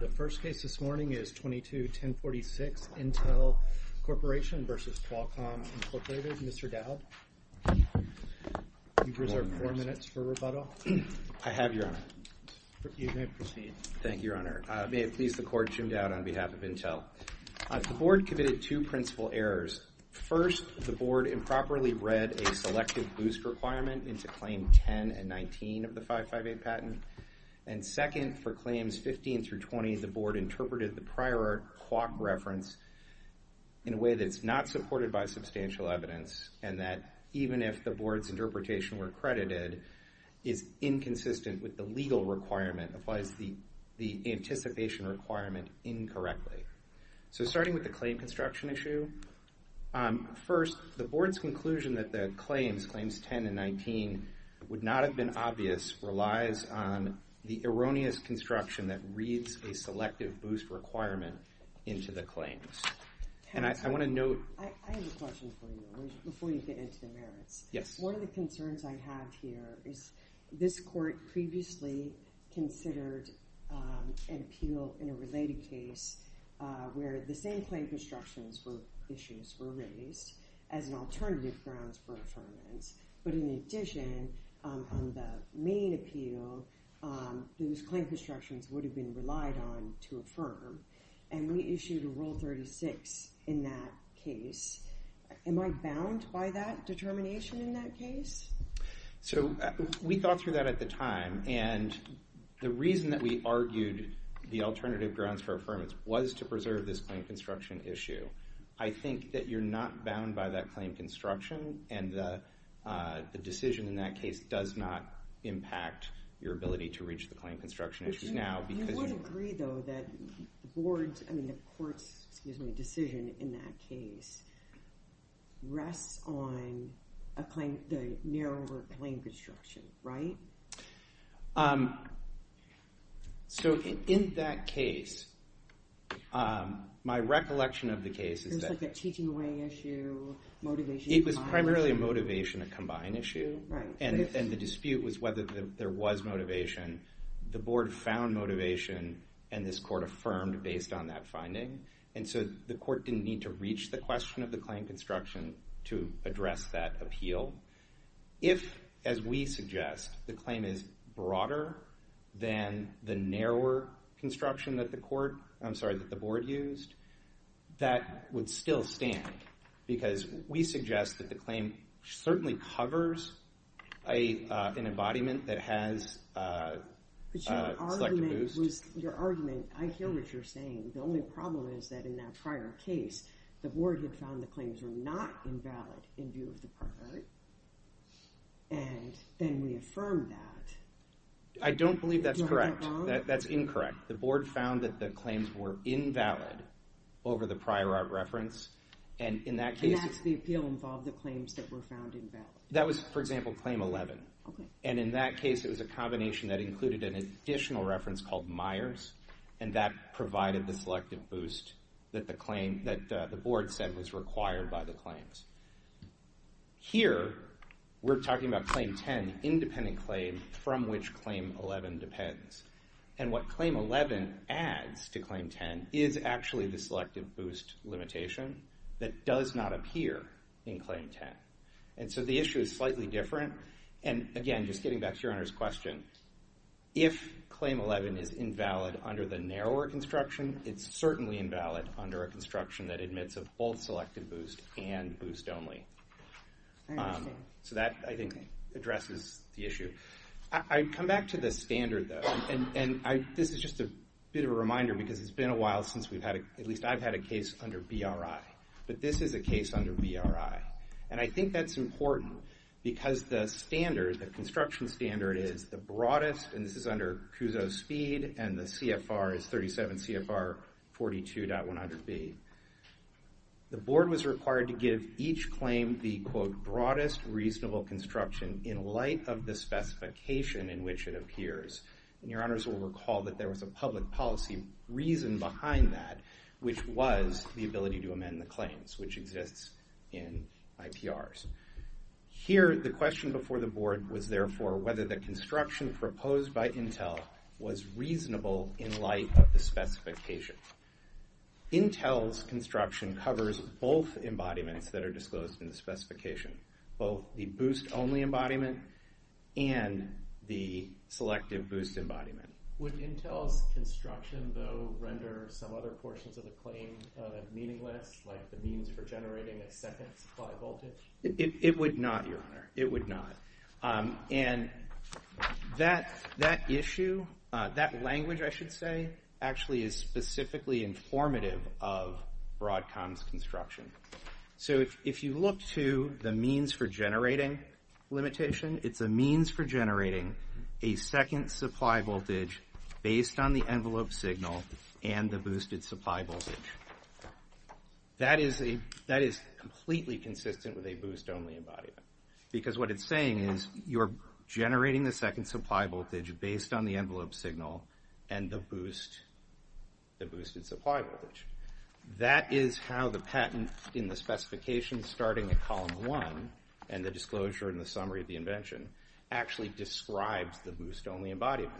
The first case this morning is 22-1046 Intel Corporation v. Qualcomm Incorporated. Mr. Dowd, you've reserved four minutes for rebuttal. I have, Your Honor. You may proceed. Thank you, Your Honor. May it please the Court, Jim Dowd, on behalf of Intel. The Board committed two principal errors. First, the Board improperly read a selective boost requirement into Claim 10 and 19 of the 558 patent. And second, for Claims 15 through 20, the Board interpreted the prior quark reference in a way that's not supported by substantial evidence, and that even if the Board's interpretation were credited, is inconsistent with the legal requirement, applies the anticipation requirement incorrectly. So starting with the claim construction issue, first, the Board's conclusion that the claims, Claims 10 and 19, would not have been obvious relies on the erroneous construction that reads a selective boost requirement into the claims. And I want to note... I have a question for you, before you get into the merits. Yes. One of the concerns I have here is this Court previously considered an appeal in a related case where the same claim constructions issues were raised as an alternative grounds for affirmance. But in addition, on the main appeal, those claim constructions would have been relied on to affirm. And we issued a Rule 36 in that case. Am I bound by that determination in that case? So, we thought through that at the time. And the reason that we argued the alternative grounds for affirmance was to preserve this claim construction issue. I think that you're not bound by that claim construction. And the decision in that case does not impact your ability to reach the claim construction issues now. You would agree, though, that the Court's decision in that case rests on the narrower claim construction, right? So, in that case, my recollection of the case is that... It was like a teaching away issue, motivation... It was primarily a motivation, a combined issue. And the dispute was whether there was motivation. The Board found motivation, and this Court affirmed based on that finding. And so, the Court didn't need to reach the question of the claim construction to address that appeal. If, as we suggest, the claim is broader than the narrower construction that the Court... I'm sorry, that the Board used, that would still stand. Because we suggest that the claim certainly covers an embodiment that has a selective boost. Your argument... I hear what you're saying. The only problem is that in that prior case, the Board had found the claims were not invalid in view of the prior art. And then we affirmed that. I don't believe that's correct. That's incorrect. The Board found that the claims were invalid over the prior art reference. And in that case... And that's the appeal involved, the claims that were found invalid. That was, for example, Claim 11. And in that case, it was a combination that included an additional reference called Myers. And that provided the selective boost that the Board said was required by the claims. Here, we're talking about Claim 10, independent claim from which Claim 11 depends. And what Claim 11 adds to Claim 10 is actually the selective boost limitation that does not appear in Claim 10. And so, the issue is slightly different. And, again, just getting back to Your Honor's question, if Claim 11 is invalid under the narrower construction, it's certainly invalid under a construction that admits of both selective boost and boost only. So that, I think, addresses the issue. I'd come back to the standard, though. And this is just a bit of a reminder because it's been a while since we've had a... At least I've had a case under BRI. But this is a case under BRI. And I think that's important because the standard, the construction standard, is the broadest. And this is under CUSO Speed. And the CFR is 37 CFR 42.100B. The Board was required to give each claim the, quote, broadest reasonable construction in light of the specification in which it appears. And Your Honors will recall that there was a public policy reason behind that, which was the ability to amend the claims, which exists in IPRs. Here, the question before the Board was, therefore, whether the construction proposed by Intel was reasonable in light of the specification. Intel's construction covers both embodiments that are disclosed in the specification, both the boost only embodiment and the selective boost embodiment. Would Intel's construction, though, render some other portions of the claim meaningless, like the means for generating a second supply voltage? It would not, Your Honor. It would not. And that issue, that language, I should say, actually is specifically informative of Broadcom's construction. So if you look to the means for generating limitation, it's a means for generating a second supply voltage based on the envelope signal and the boosted supply voltage. That is completely consistent with a boost only embodiment, because what it's saying is you're generating the second supply voltage based on the envelope signal and the boosted supply voltage. That is how the patent in the specification starting at column one and the disclosure in the summary of the invention actually describes the boost only embodiment.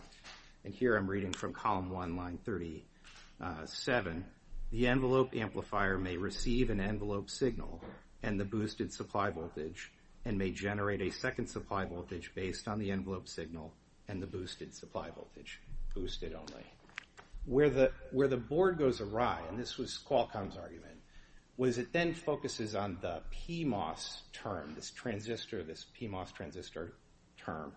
And here I'm reading from column one, line 37. The envelope amplifier may receive an envelope signal and the boosted supply voltage and may generate a second supply voltage based on the envelope signal and the boosted supply voltage, boosted only. Where the Board goes awry, and this was Qualcomm's argument, was it then focuses on the PMOS term, this transistor, this PMOS transistor term,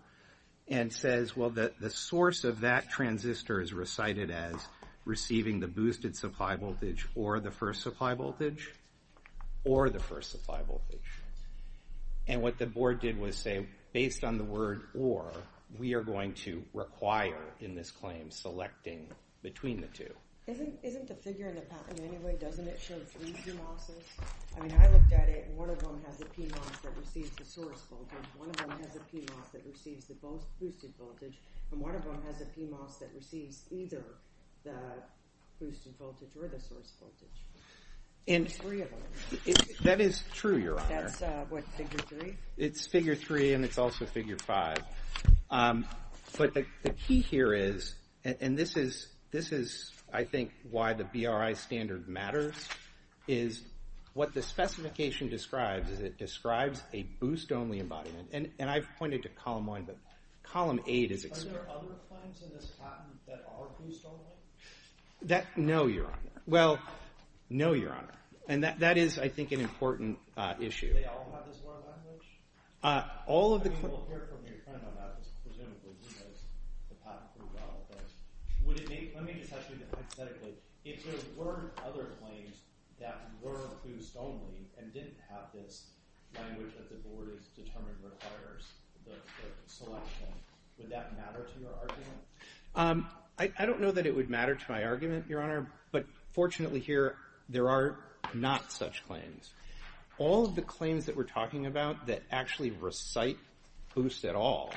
and says, well, the source of that transistor is recited as receiving the boosted supply voltage or the first supply voltage, or the first supply voltage. And what the Board did was say, based on the word or, we are going to require in this claim selecting between the two. Isn't the figure in the patent anyway, doesn't it show three PMOSes? I mean, I looked at it and one of them has a PMOS that receives the source voltage, one of them has a PMOS that receives the boosted voltage, and one of them has a PMOS that receives either the boosted voltage or the source voltage. There's three of them. That is true, Your Honor. That's what, figure three? It's figure three and it's also figure five. But the key here is, and this is, I think, why the BRI standard matters, is what the specification describes is it describes a boost-only embodiment. And I've pointed to column one, but column eight is explained. Are there other claims in this patent that are boost-only? No, Your Honor. Well, no, Your Honor. And that is, I think, an important issue. Do they all have this one language? I mean, we'll hear from your friend on that because presumably he knows the patent pretty well. Let me just ask you hypothetically. If there were other claims that were boost-only and didn't have this language that the board has determined requires the selection, would that matter to your argument? I don't know that it would matter to my argument, Your Honor, but fortunately here there are not such claims. All of the claims that we're talking about that actually recite boost at all,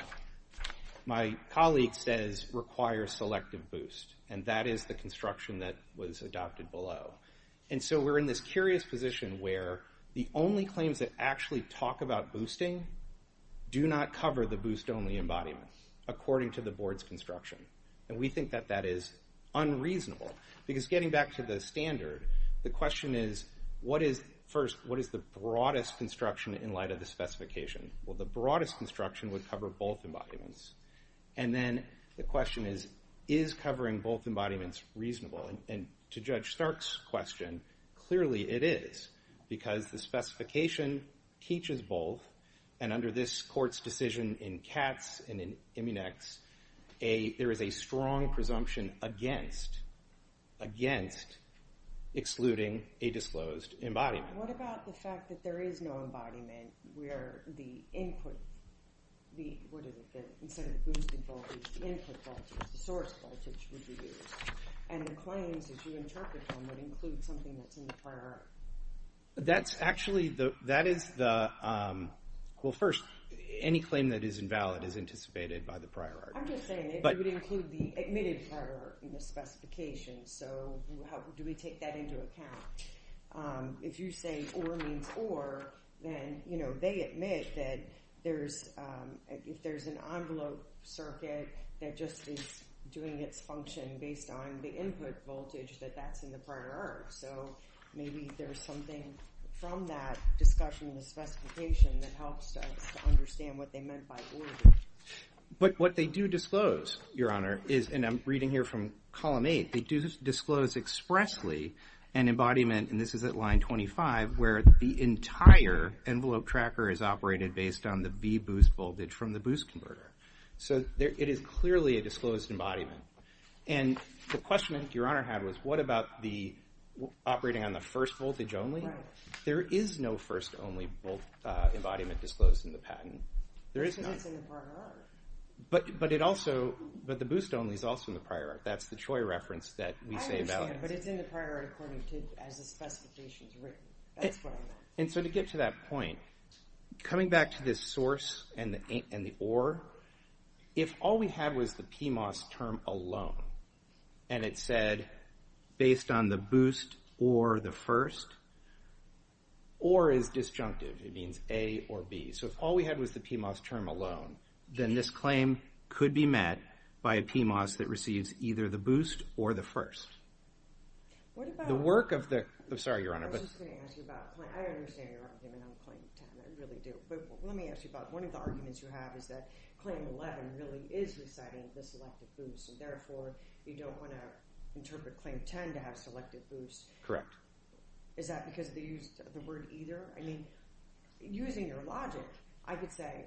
my colleague says require selective boost, and that is the construction that was adopted below. And so we're in this curious position where the only claims that actually talk about boosting do not cover the boost-only embodiment according to the board's construction. And we think that that is unreasonable because getting back to the standard, the question is, first, what is the broadest construction in light of the specification? Well, the broadest construction would cover both embodiments. And then the question is, is covering both embodiments reasonable? And to Judge Stark's question, clearly it is because the specification teaches both, and under this court's decision in Katz and in Immunex, there is a strong presumption against excluding a disclosed embodiment. What about the fact that there is no embodiment where the input, what is it, instead of the boosting voltage, the input voltage, the source voltage would be used, and the claims, as you interpret them, would include something that's in the prior art? That's actually, that is the, well, first, any claim that is invalid is anticipated by the prior art. I'm just saying it would include the admitted prior art in the specification, so do we take that into account? If you say or means or, then, you know, they admit that there's, if there's an envelope circuit that just is doing its function based on the input voltage, that that's in the prior art. So maybe there's something from that discussion in the specification that helps us to understand what they meant by ordered. But what they do disclose, Your Honor, is, and I'm reading here from column 8, they do disclose expressly an embodiment, and this is at line 25, where the entire envelope tracker is operated based on the B boost voltage from the boost converter. So it is clearly a disclosed embodiment. And the question I think Your Honor had was, what about the operating on the first voltage only? There is no first only embodiment disclosed in the patent. There is none. Because it's in the prior art. But it also, but the boost only is also in the prior art. That's the Choi reference that we say about it. I understand, but it's in the prior art according to, as the specification's written. That's what I meant. And so to get to that point, coming back to this source and the or, if all we had was the PMOS term alone, and it said based on the boost or the first, or is disjunctive, it means A or B. So if all we had was the PMOS term alone, then this claim could be met by a PMOS that receives either the boost or the first. The work of the, sorry, Your Honor. I was just going to ask you about, I understand your argument on claim 10. I really do. But let me ask you about one of the arguments you have is that claim 11 really is reciting the selective boost, and therefore you don't want to interpret claim 10 to have selective boost. Correct. Is that because they used the word either? I mean, using your logic, I could say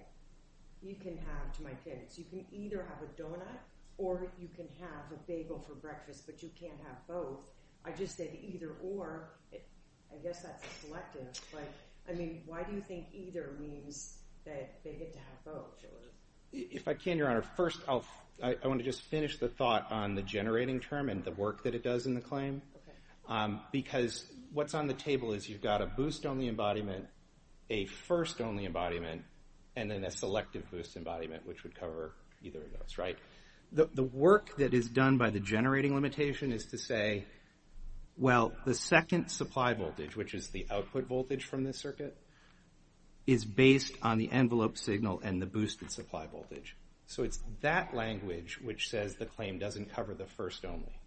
you can have, to my opinions, you can either have a donut or you can have a bagel for breakfast, but you can't have both. I just said either or. I guess that's a selective. I mean, why do you think either means that they get to have both? If I can, Your Honor, first I want to just finish the thought on the generating term and the work that it does in the claim. Because what's on the table is you've got a boost-only embodiment, a first-only embodiment, and then a selective boost embodiment, which would cover either of those, right? The work that is done by the generating limitation is to say, well, the second supply voltage, which is the output voltage from the circuit, is based on the envelope signal and the boosted supply voltage. So it's that language which says the claim doesn't cover the first only,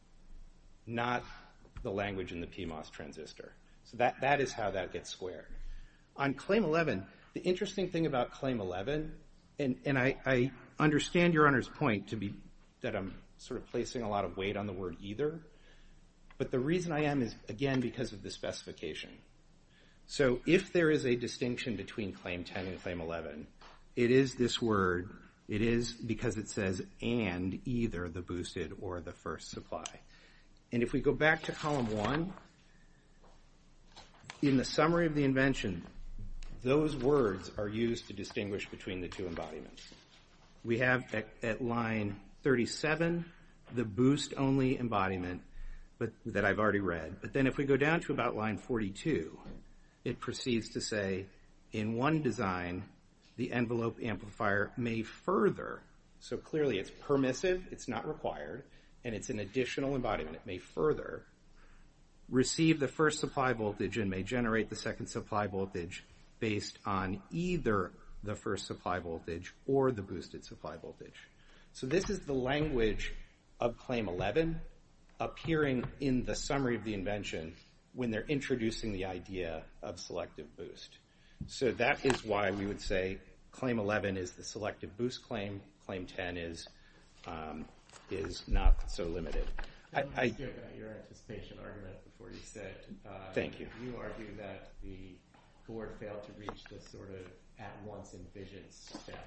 not the language in the PMOS transistor. So that is how that gets squared. On claim 11, the interesting thing about claim 11, and I understand Your Honor's point that I'm sort of placing a lot of weight on the word either, but the reason I am is, again, because of the specification. So if there is a distinction between claim 10 and claim 11, it is this word. It is because it says and either the boosted or the first supply. And if we go back to column 1, in the summary of the invention, those words are used to distinguish between the two embodiments. We have at line 37 the boost only embodiment that I've already read. But then if we go down to about line 42, it proceeds to say in one design, the envelope amplifier may further, so clearly it's permissive, it's not required, and it's an additional embodiment. It may further receive the first supply voltage and may generate the second supply voltage based on either the first supply voltage or the boosted supply voltage. So this is the language of claim 11 appearing in the summary of the invention when they're introducing the idea of selective boost. So that is why we would say claim 11 is the selective boost claim. Claim 10 is not so limited. I want to ask you about your anticipation argument before you sit. Thank you. You argue that the board failed to reach this sort of at once envisioned step.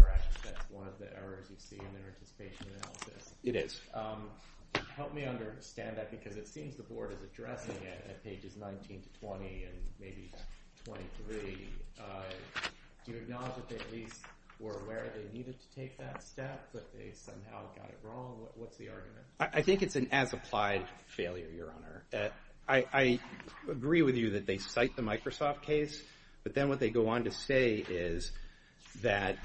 Perhaps that's one of the errors you see in their anticipation analysis. It is. Help me understand that because it seems the board is addressing it at pages 19 to 20 and maybe 23. Do you acknowledge that they at least were aware they needed to take that step but they somehow got it wrong? What's the argument? I think it's an as-applied failure, Your Honor. I agree with you that they cite the Microsoft case, but then what they go on to say is that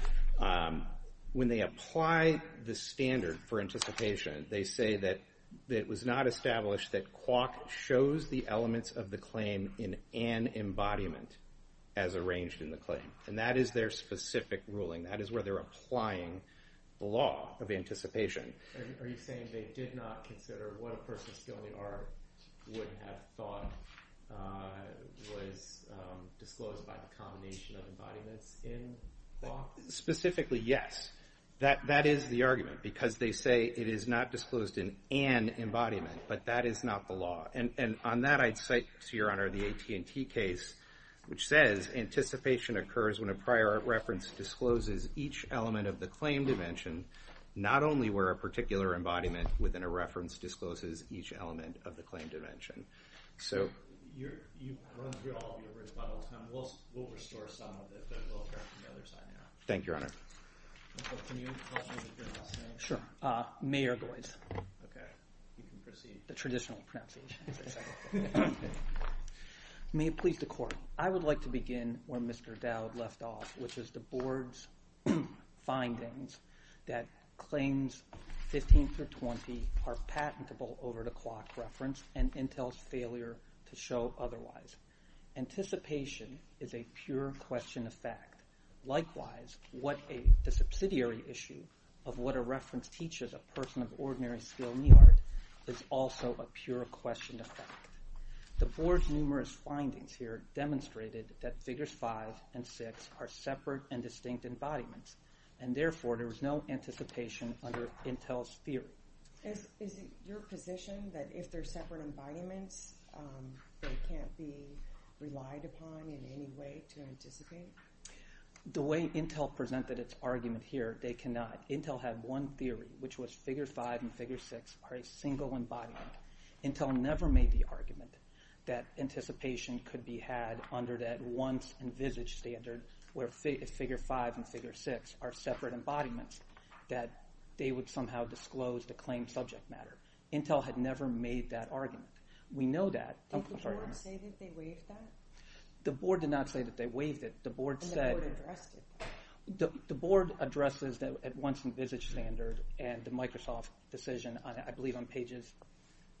when they apply the standard for anticipation, they say that it was not established that quark shows the elements of the claim in an embodiment as arranged in the claim. And that is their specific ruling. That is where they're applying the law of anticipation. Are you saying they did not consider what a person still in the art would have thought was disclosed by the combination of embodiments in quark? Specifically, yes. That is the argument because they say it is not disclosed in an embodiment, but that is not the law. And on that I'd cite, to Your Honor, the AT&T case, which says anticipation occurs when a prior reference discloses each element of the claim dimension, not only where a particular embodiment within a reference discloses each element of the claim dimension. So you've run through all of your rebuttals, and we'll restore some of it, but we'll turn to the other side now. Thank you, Your Honor. Can you help me with your last name? Sure. Mayor Goids. Okay. You can proceed. The traditional pronunciation. May it please the Court. I would like to begin where Mr. Dowd left off, which is the Board's findings that claims 15 through 20 are patentable over the quark reference and Intel's failure to show otherwise. Anticipation is a pure question of fact. Likewise, the subsidiary issue of what a reference teaches a person of ordinary skill in the art is also a pure question of fact. The Board's numerous findings here demonstrated that figures 5 and 6 are separate and distinct embodiments, and therefore there was no anticipation under Intel's theory. Is it your position that if they're separate embodiments, they can't be relied upon in any way to anticipate? The way Intel presented its argument here, they cannot. Intel had one theory, which was figure 5 and figure 6 are a single embodiment. Intel never made the argument that anticipation could be had under that once-envisaged standard where figure 5 and figure 6 are separate embodiments that they would somehow disclose to claim subject matter. Intel had never made that argument. We know that. Did the Board say that they waived that? The Board did not say that they waived it. And the Board addressed it. The Board addresses the once-envisaged standard and the Microsoft decision, I believe, on pages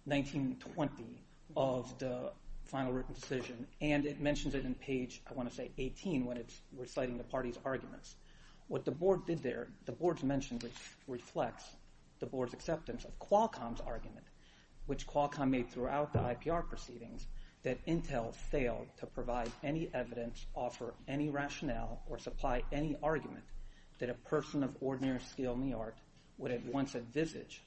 19 and 20 of the final written decision, and it mentions it in page, I want to say, 18 when it's reciting the party's arguments. What the Board did there, the Board's mention reflects the Board's acceptance of Qualcomm's argument, which Qualcomm made throughout the IPR proceedings, that Intel failed to provide any evidence, offer any rationale, or supply any argument that a person of ordinary skill in the art would at once envisage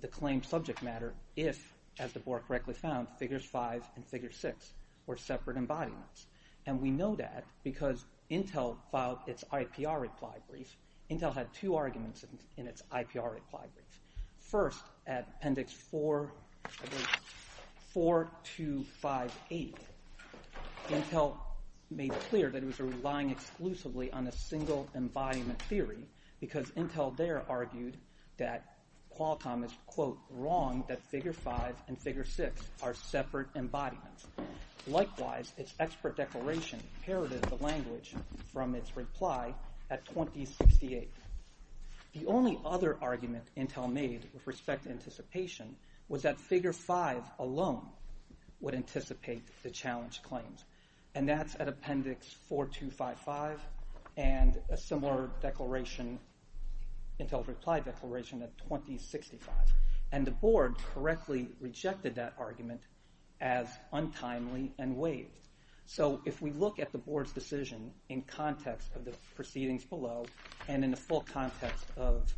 the claimed subject matter if, as the Board correctly found, figures 5 and figure 6 were separate embodiments. And we know that because Intel filed its IPR reply brief. Intel had two arguments in its IPR reply brief. First, at appendix 4258, Intel made clear that it was relying exclusively on a single embodiment theory because Intel there argued that Qualcomm is, quote, wrong that figure 5 and figure 6 are separate embodiments. Likewise, its expert declaration inherited the language from its reply at 2068. The only other argument Intel made with respect to anticipation was that figure 5 alone would anticipate the challenge claims. And that's at appendix 4255 and a similar declaration, Intel's reply declaration at 2065. And the Board correctly rejected that argument as untimely and waived. So if we look at the Board's decision in context of the proceedings below and in the full context of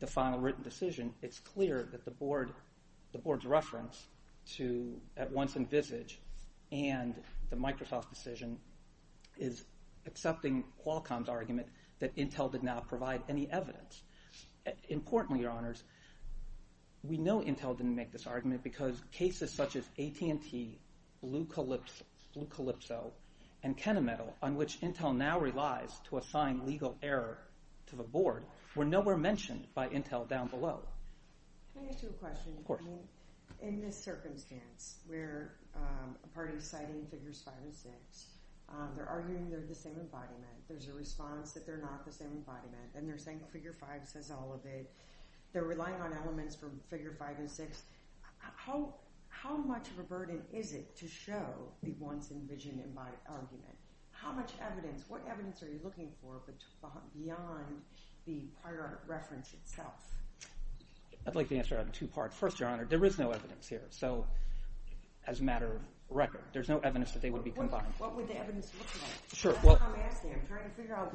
the final written decision, it's clear that the Board's reference to at once envisage and the Microsoft decision is accepting Qualcomm's argument that Intel did not provide any evidence. Importantly, Your Honors, we know Intel didn't make this argument because cases such as AT&T, Blue Calypso, and KennaMetal, on which Intel now relies to assign legal error to the Board, were nowhere mentioned by Intel down below. Can I ask you a question? Of course. In this circumstance where a party is citing figures 5 and 6, they're arguing they're the same embodiment, there's a response that they're not the same embodiment, and they're saying figure 5 says all of it, they're relying on elements from figure 5 and 6, how much of a burden is it to show the once envisioned embodiment? How much evidence, what evidence are you looking for beyond the prior reference itself? I'd like to answer that in two parts. First, Your Honor, there is no evidence here. So as a matter of record, there's no evidence that they would be combined. What would the evidence look like? That's what I'm asking. I'm trying to figure out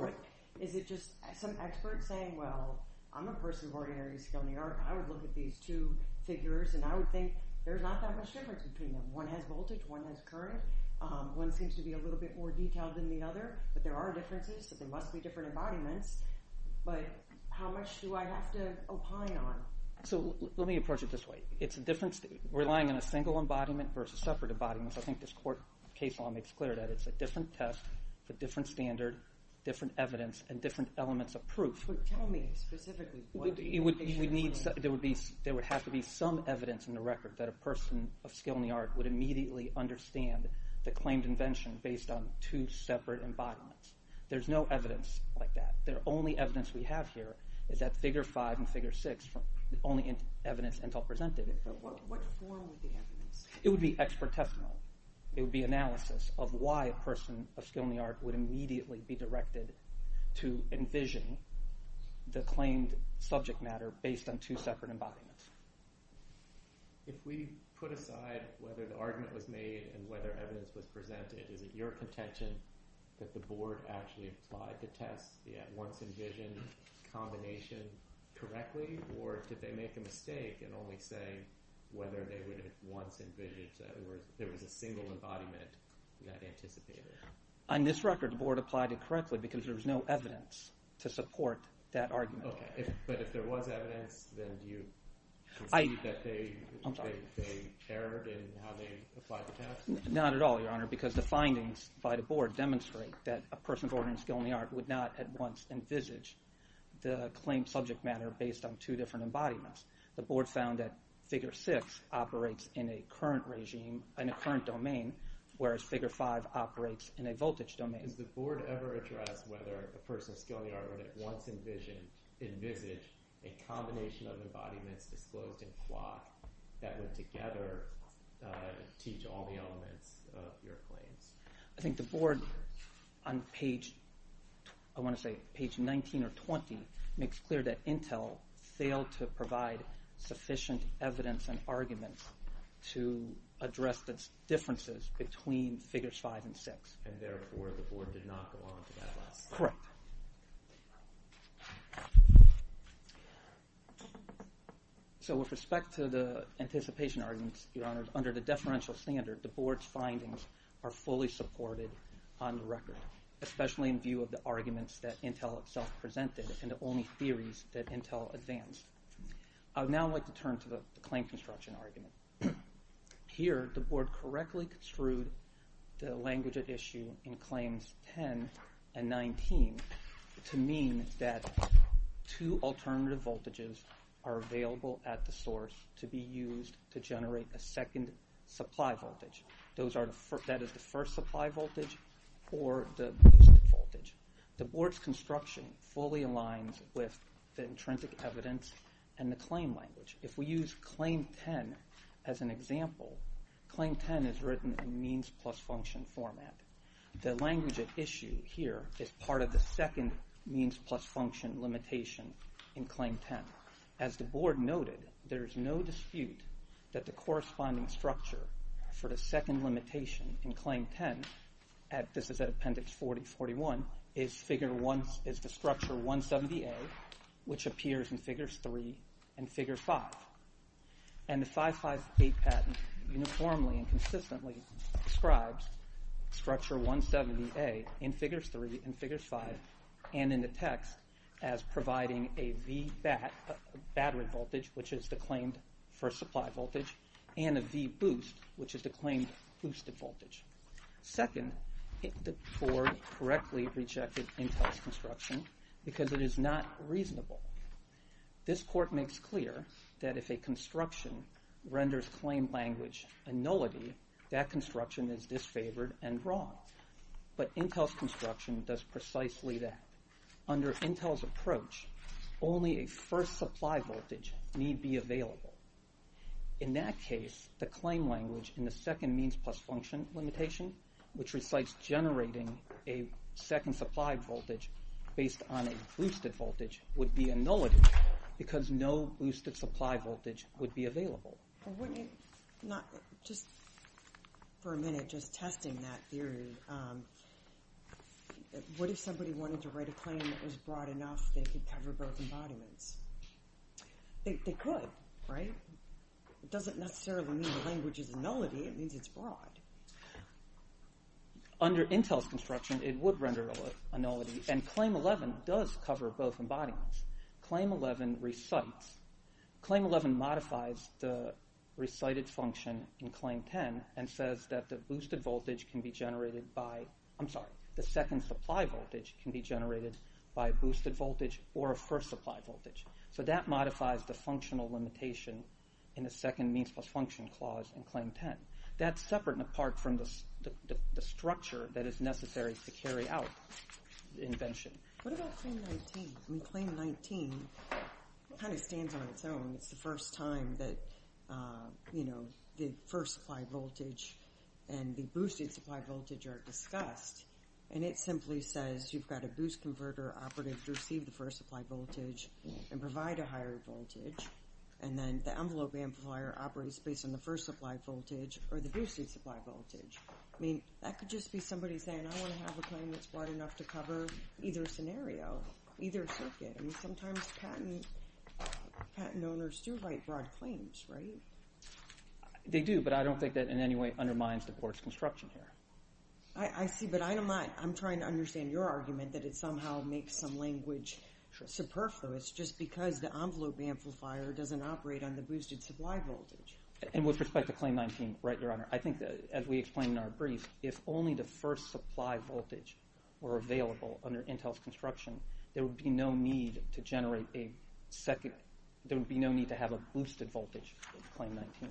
is it just some expert saying, well, I'm a person of ordinary skill in the art, and I would look at these two figures, and I would think there's not that much difference between them. One has voltage, one has current. One seems to be a little bit more detailed than the other, but there are differences, so there must be different embodiments. But how much do I have to opine on? So let me approach it this way. It's a different state. Relying on a single embodiment versus separate embodiments, I think this court case law makes clear that it's a different test for different standard, different evidence, and different elements of proof. Tell me specifically. There would have to be some evidence in the record that a person of skill in the art would immediately understand the claimed invention based on two separate embodiments. There's no evidence like that. The only evidence we have here is that figure 5 and figure 6, the only evidence Intel presented. What form would the evidence be? It would be expert testimony. It would be analysis of why a person of skill in the art would immediately be directed to envision the claimed subject matter based on two separate embodiments. If we put aside whether the argument was made and whether evidence was presented, is it your contention that the board actually applied the test, the once-envisioned combination, correctly, or did they make a mistake and only say whether they would have once envisioned that there was a single embodiment that anticipated it? On this record, the board applied it correctly because there was no evidence to support that argument. Okay, but if there was evidence, then do you concede that they erred in how they applied the test? Not at all, Your Honor, because the findings by the board demonstrate that a person of skill in the art would not at once envisage the claimed subject matter based on two different embodiments. The board found that figure 6 operates in a current domain, whereas figure 5 operates in a voltage domain. Does the board ever address whether a person of skill in the art would at once envisage a combination of embodiments disclosed in plot that would together teach all the elements of your claims? I think the board, on page 19 or 20, makes clear that Intel failed to provide sufficient evidence and arguments to address the differences between figures 5 and 6. And therefore, the board did not go on to that lesson. Correct. So with respect to the anticipation arguments, Your Honor, under the deferential standard, the board's findings are fully supported on the record, especially in view of the arguments that Intel itself presented and the only theories that Intel advanced. I would now like to turn to the claim construction argument. Here, the board correctly construed the language at issue in claims 10 and 19 to mean that two alternative voltages are available at the source to be used to generate a second supply voltage. That is the first supply voltage or the boosted voltage. The board's construction fully aligns with the intrinsic evidence and the claim language. If we use claim 10 as an example, claim 10 is written in means plus function format. The language at issue here is part of the second means plus function limitation in claim 10. As the board noted, there is no dispute that the corresponding structure for the second limitation in claim 10, this is at appendix 40-41, is the structure 170A, which appears in Figures 3 and Figure 5. And the 558 patent uniformly and consistently describes structure 170A in Figures 3 and Figures 5 and in the text as providing a V battery voltage, which is the claimed first supply voltage, Second, the board correctly rejected Intel's construction because it is not reasonable. This court makes clear that if a construction renders claim language a nullity, that construction is disfavored and wrong. But Intel's construction does precisely that. Under Intel's approach, only a first supply voltage need be available. In that case, the claim language in the second means plus function limitation, which recites generating a second supply voltage based on a boosted voltage, would be a nullity because no boosted supply voltage would be available. Just for a minute, just testing that theory, what if somebody wanted to write a claim that was broad enough they could cover both embodiments? They could, right? It doesn't necessarily mean the language is a nullity, it means it's broad. Under Intel's construction, it would render a nullity and Claim 11 does cover both embodiments. Claim 11 recites, Claim 11 modifies the recited function in Claim 10 and says that the boosted voltage can be generated by, I'm sorry, the second supply voltage can be generated by a boosted voltage or a first supply voltage. So that modifies the functional limitation in the second means plus function clause in Claim 10. That's separate and apart from the structure that is necessary to carry out the invention. What about Claim 19? Claim 19 kind of stands on its own. It's the first time that the first supply voltage and the boosted supply voltage are discussed, and it simply says you've got a boost converter operative to receive the first supply voltage and provide a higher voltage, and then the envelope amplifier operates based on the first supply voltage or the boosted supply voltage. That could just be somebody saying, I want to have a claim that's broad enough to cover either scenario, either circuit. I mean, sometimes patent owners do write broad claims, right? They do, but I don't think that in any way undermines the court's construction here. I see, but I'm trying to understand your argument that it somehow makes some language superfluous just because the envelope amplifier doesn't operate on the boosted supply voltage. And with respect to Claim 19, right, Your Honor, I think that, as we explained in our brief, if only the first supply voltage were available under Intel's construction, there would be no need to have a boosted voltage in Claim 19.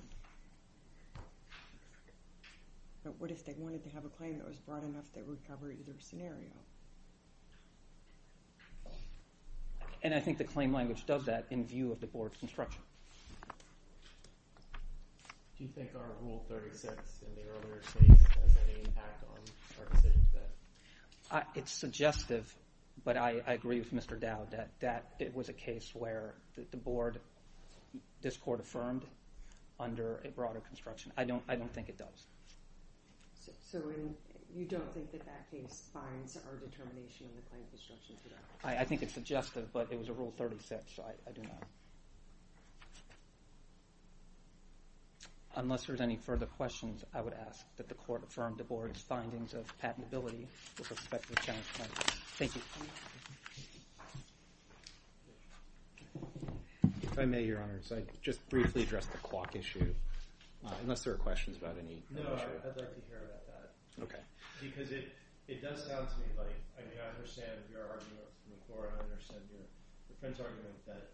But what if they wanted to have a claim that was broad enough that it would cover either scenario? And I think the claim language does that in view of the board's construction. Do you think our Rule 36 in the earlier case has any impact on our decision today? It's suggestive, but I agree with Mr. Dowd that it was a case where the board, this court affirmed under a broader construction. I don't think it does. So you don't think that that case finds our determination in the claim construction today? I think it's suggestive, but it was a Rule 36, so I do not. Unless there's any further questions, I would ask that the court affirm the board's findings of patentability with respect to Challenge 19. Thank you. If I may, Your Honor, so I'd just briefly address the clock issue, unless there are questions about any other issues. No, I'd like to hear about that. Okay. Because it does sound to me like, I mean, I understand your argument from the court. I understand your friend's argument that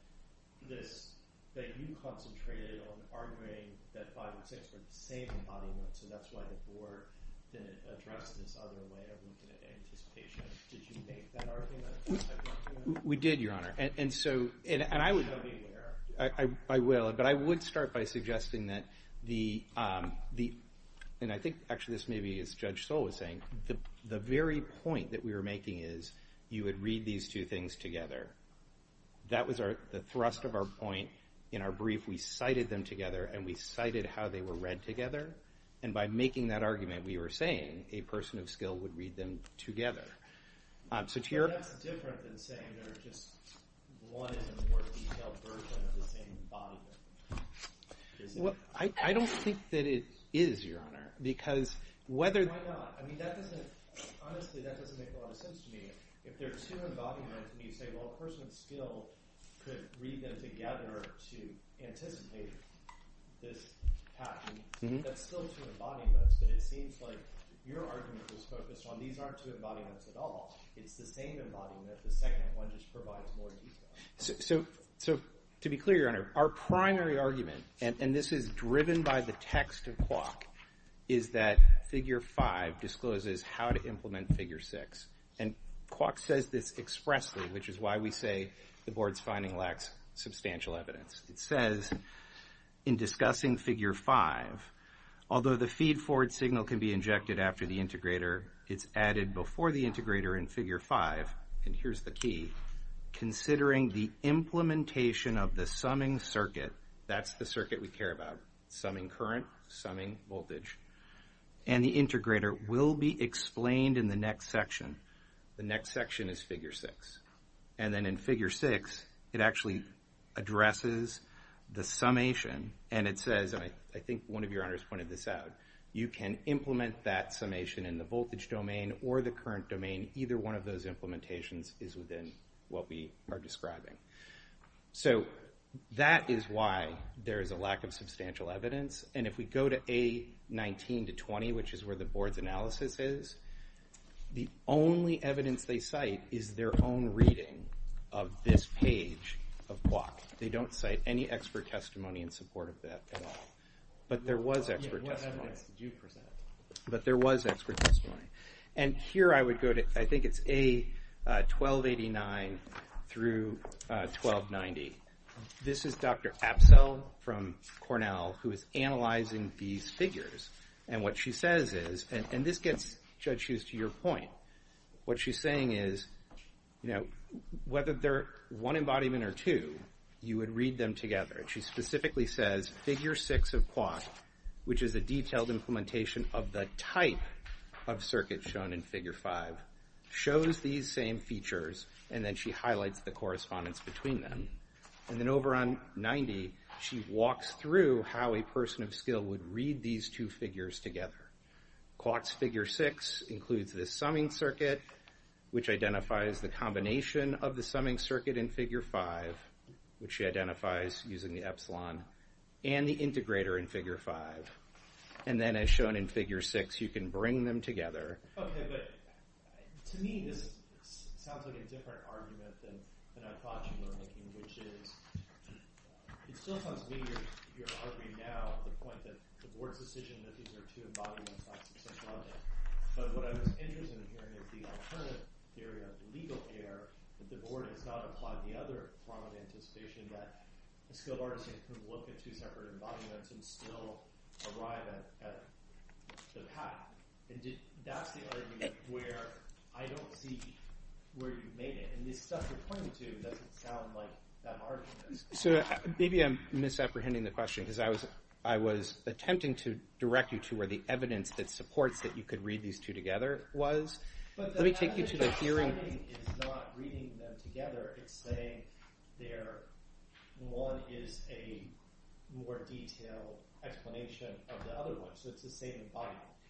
this, that you concentrated on arguing that 5 and 6 are the same embodiment, so that's why the board then addressed this other way of looking at anticipation. Did you make that argument? We did, Your Honor. And so, and I would, I will, but I would start by suggesting that the, and I think actually this may be as Judge Soule was saying, the very point that we were making is you would read these two things together. That was the thrust of our point in our brief. We cited them together and we cited how they were read together, and by making that argument we were saying a person of skill would read them together. So to your- But that's different than saying they're just one in a more detailed version of the same embodiment. I don't think that it is, Your Honor, because whether- Why not? I mean, that doesn't, honestly, that doesn't make a lot of sense to me. If there are two embodiments and you say, well, a person of skill could read them together to anticipate this happening, that's still two embodiments, but it seems like your argument was focused on these aren't two embodiments at all. It's the same embodiment. The second one just provides more detail. So to be clear, Your Honor, our primary argument, and this is driven by the text of Kwok, is that Figure 5 discloses how to implement Figure 6, and Kwok says this expressly, which is why we say the board's finding lacks substantial evidence. It says, in discussing Figure 5, although the feedforward signal can be injected after the integrator, it's added before the integrator in Figure 5, and here's the key, considering the implementation of the summing circuit, that's the circuit we care about, summing current, summing voltage, and the integrator will be explained in the next section. The next section is Figure 6, and then in Figure 6, it actually addresses the summation, and it says, and I think one of Your Honors pointed this out, you can implement that summation in the voltage domain or the current domain. Either one of those implementations is within what we are describing. So that is why there is a lack of substantial evidence, and if we go to A19 to 20, which is where the board's analysis is, the only evidence they cite is their own reading of this page of Kwok. They don't cite any expert testimony in support of that at all, but there was expert testimony. What evidence did you present? But there was expert testimony, and here I would go to, I think it's A1289 through 1290. This is Dr. Apsell from Cornell who is analyzing these figures, and what she says is, and this gets Judge Hughes to your point, what she's saying is, you know, whether they're one embodiment or two, you would read them together. She specifically says, Figure 6 of Kwok, which is a detailed implementation of the type of circuit shown in Figure 5, shows these same features, and then she highlights the correspondence between them. And then over on 90, she walks through how a person of skill would read these two figures together. Kwok's Figure 6 includes the summing circuit, which identifies the combination of the summing circuit in Figure 5, which she identifies using the epsilon, and the integrator in Figure 5. And then as shown in Figure 6, you can bring them together. Okay, but to me this sounds like a different argument than I thought you were making, which is, it still sounds to me you're arguing now the point that the board's decision that these are two embodiments is not successful, but what I was interested in hearing is the alternative theory of legal error, that the board has not applied the other prominent anticipation that a skilled artisan could look at two separate embodiments and still arrive at the path. And that's the argument where I don't see where you've made it. And this stuff you're pointing to doesn't sound like that argument. So maybe I'm misapprehending the question, because I was attempting to direct you to where the evidence that supports that you could read these two together was. Let me take you to the hearing.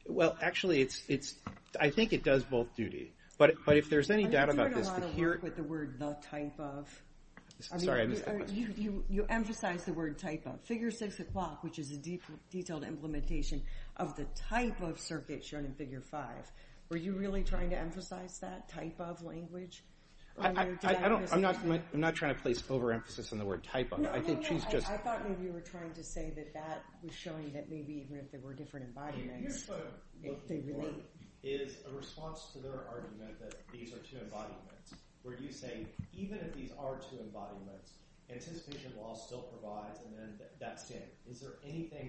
Well, actually, it's, I think it does both duty. But if there's any doubt about this... Sorry, I missed the question. Figure six o'clock, which is a detailed implementation of the type of circuit shown in figure five. Were you really trying to emphasize that type of language? I'm not trying to place overemphasis on the word type of. I think she's just... I thought maybe you were trying to say that that was showing that maybe even if there were different embodiments, they relate. Is there anything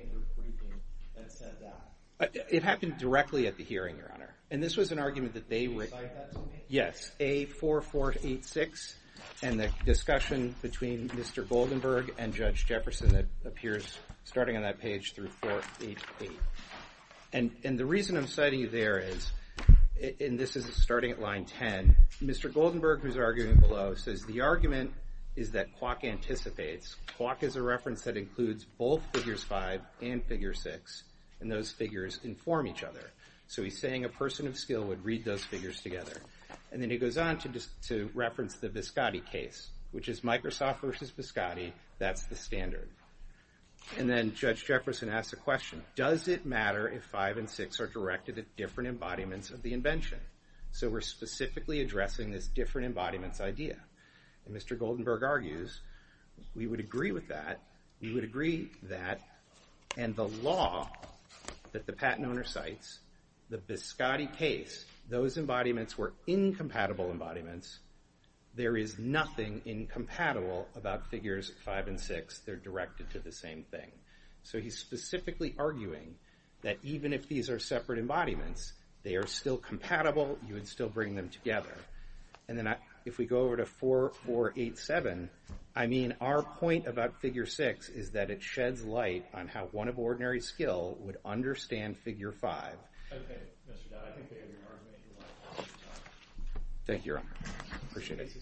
in your briefing that said that? It happened directly at the hearing, Your Honor. And this was an argument that they were... Did you cite that to me? Yes. A4486 and the discussion between Mr. Goldenberg and Judge Jefferson that appears starting on that page through 488. And the reason I'm citing you there is, and this is starting at line 10, Mr. Goldenberg, who's arguing below, says the argument is that Kwok anticipates. Kwok is a reference that includes both figures five and figure six, and those figures inform each other. So he's saying a person of skill would read those figures together. And then he goes on to reference the Biscotti case, which is Microsoft versus Biscotti. That's the standard. And then Judge Jefferson asks a question. Does it matter if five and six are directed at different embodiments of the invention? So we're specifically addressing this different embodiments idea. And Mr. Goldenberg argues we would agree with that. We would agree that. And the law that the patent owner cites, the Biscotti case, those embodiments were incompatible embodiments. There is nothing incompatible about figures five and six. They're directed to the same thing. So he's specifically arguing that even if these are separate embodiments, they are still compatible. You would still bring them together. And then if we go over to 4487, I mean our point about figure six is that it sheds light on how one of ordinary skill would understand figure five. Okay, Mr. Dodd, I think we have your argument. Thank you, Your Honor. Appreciate it.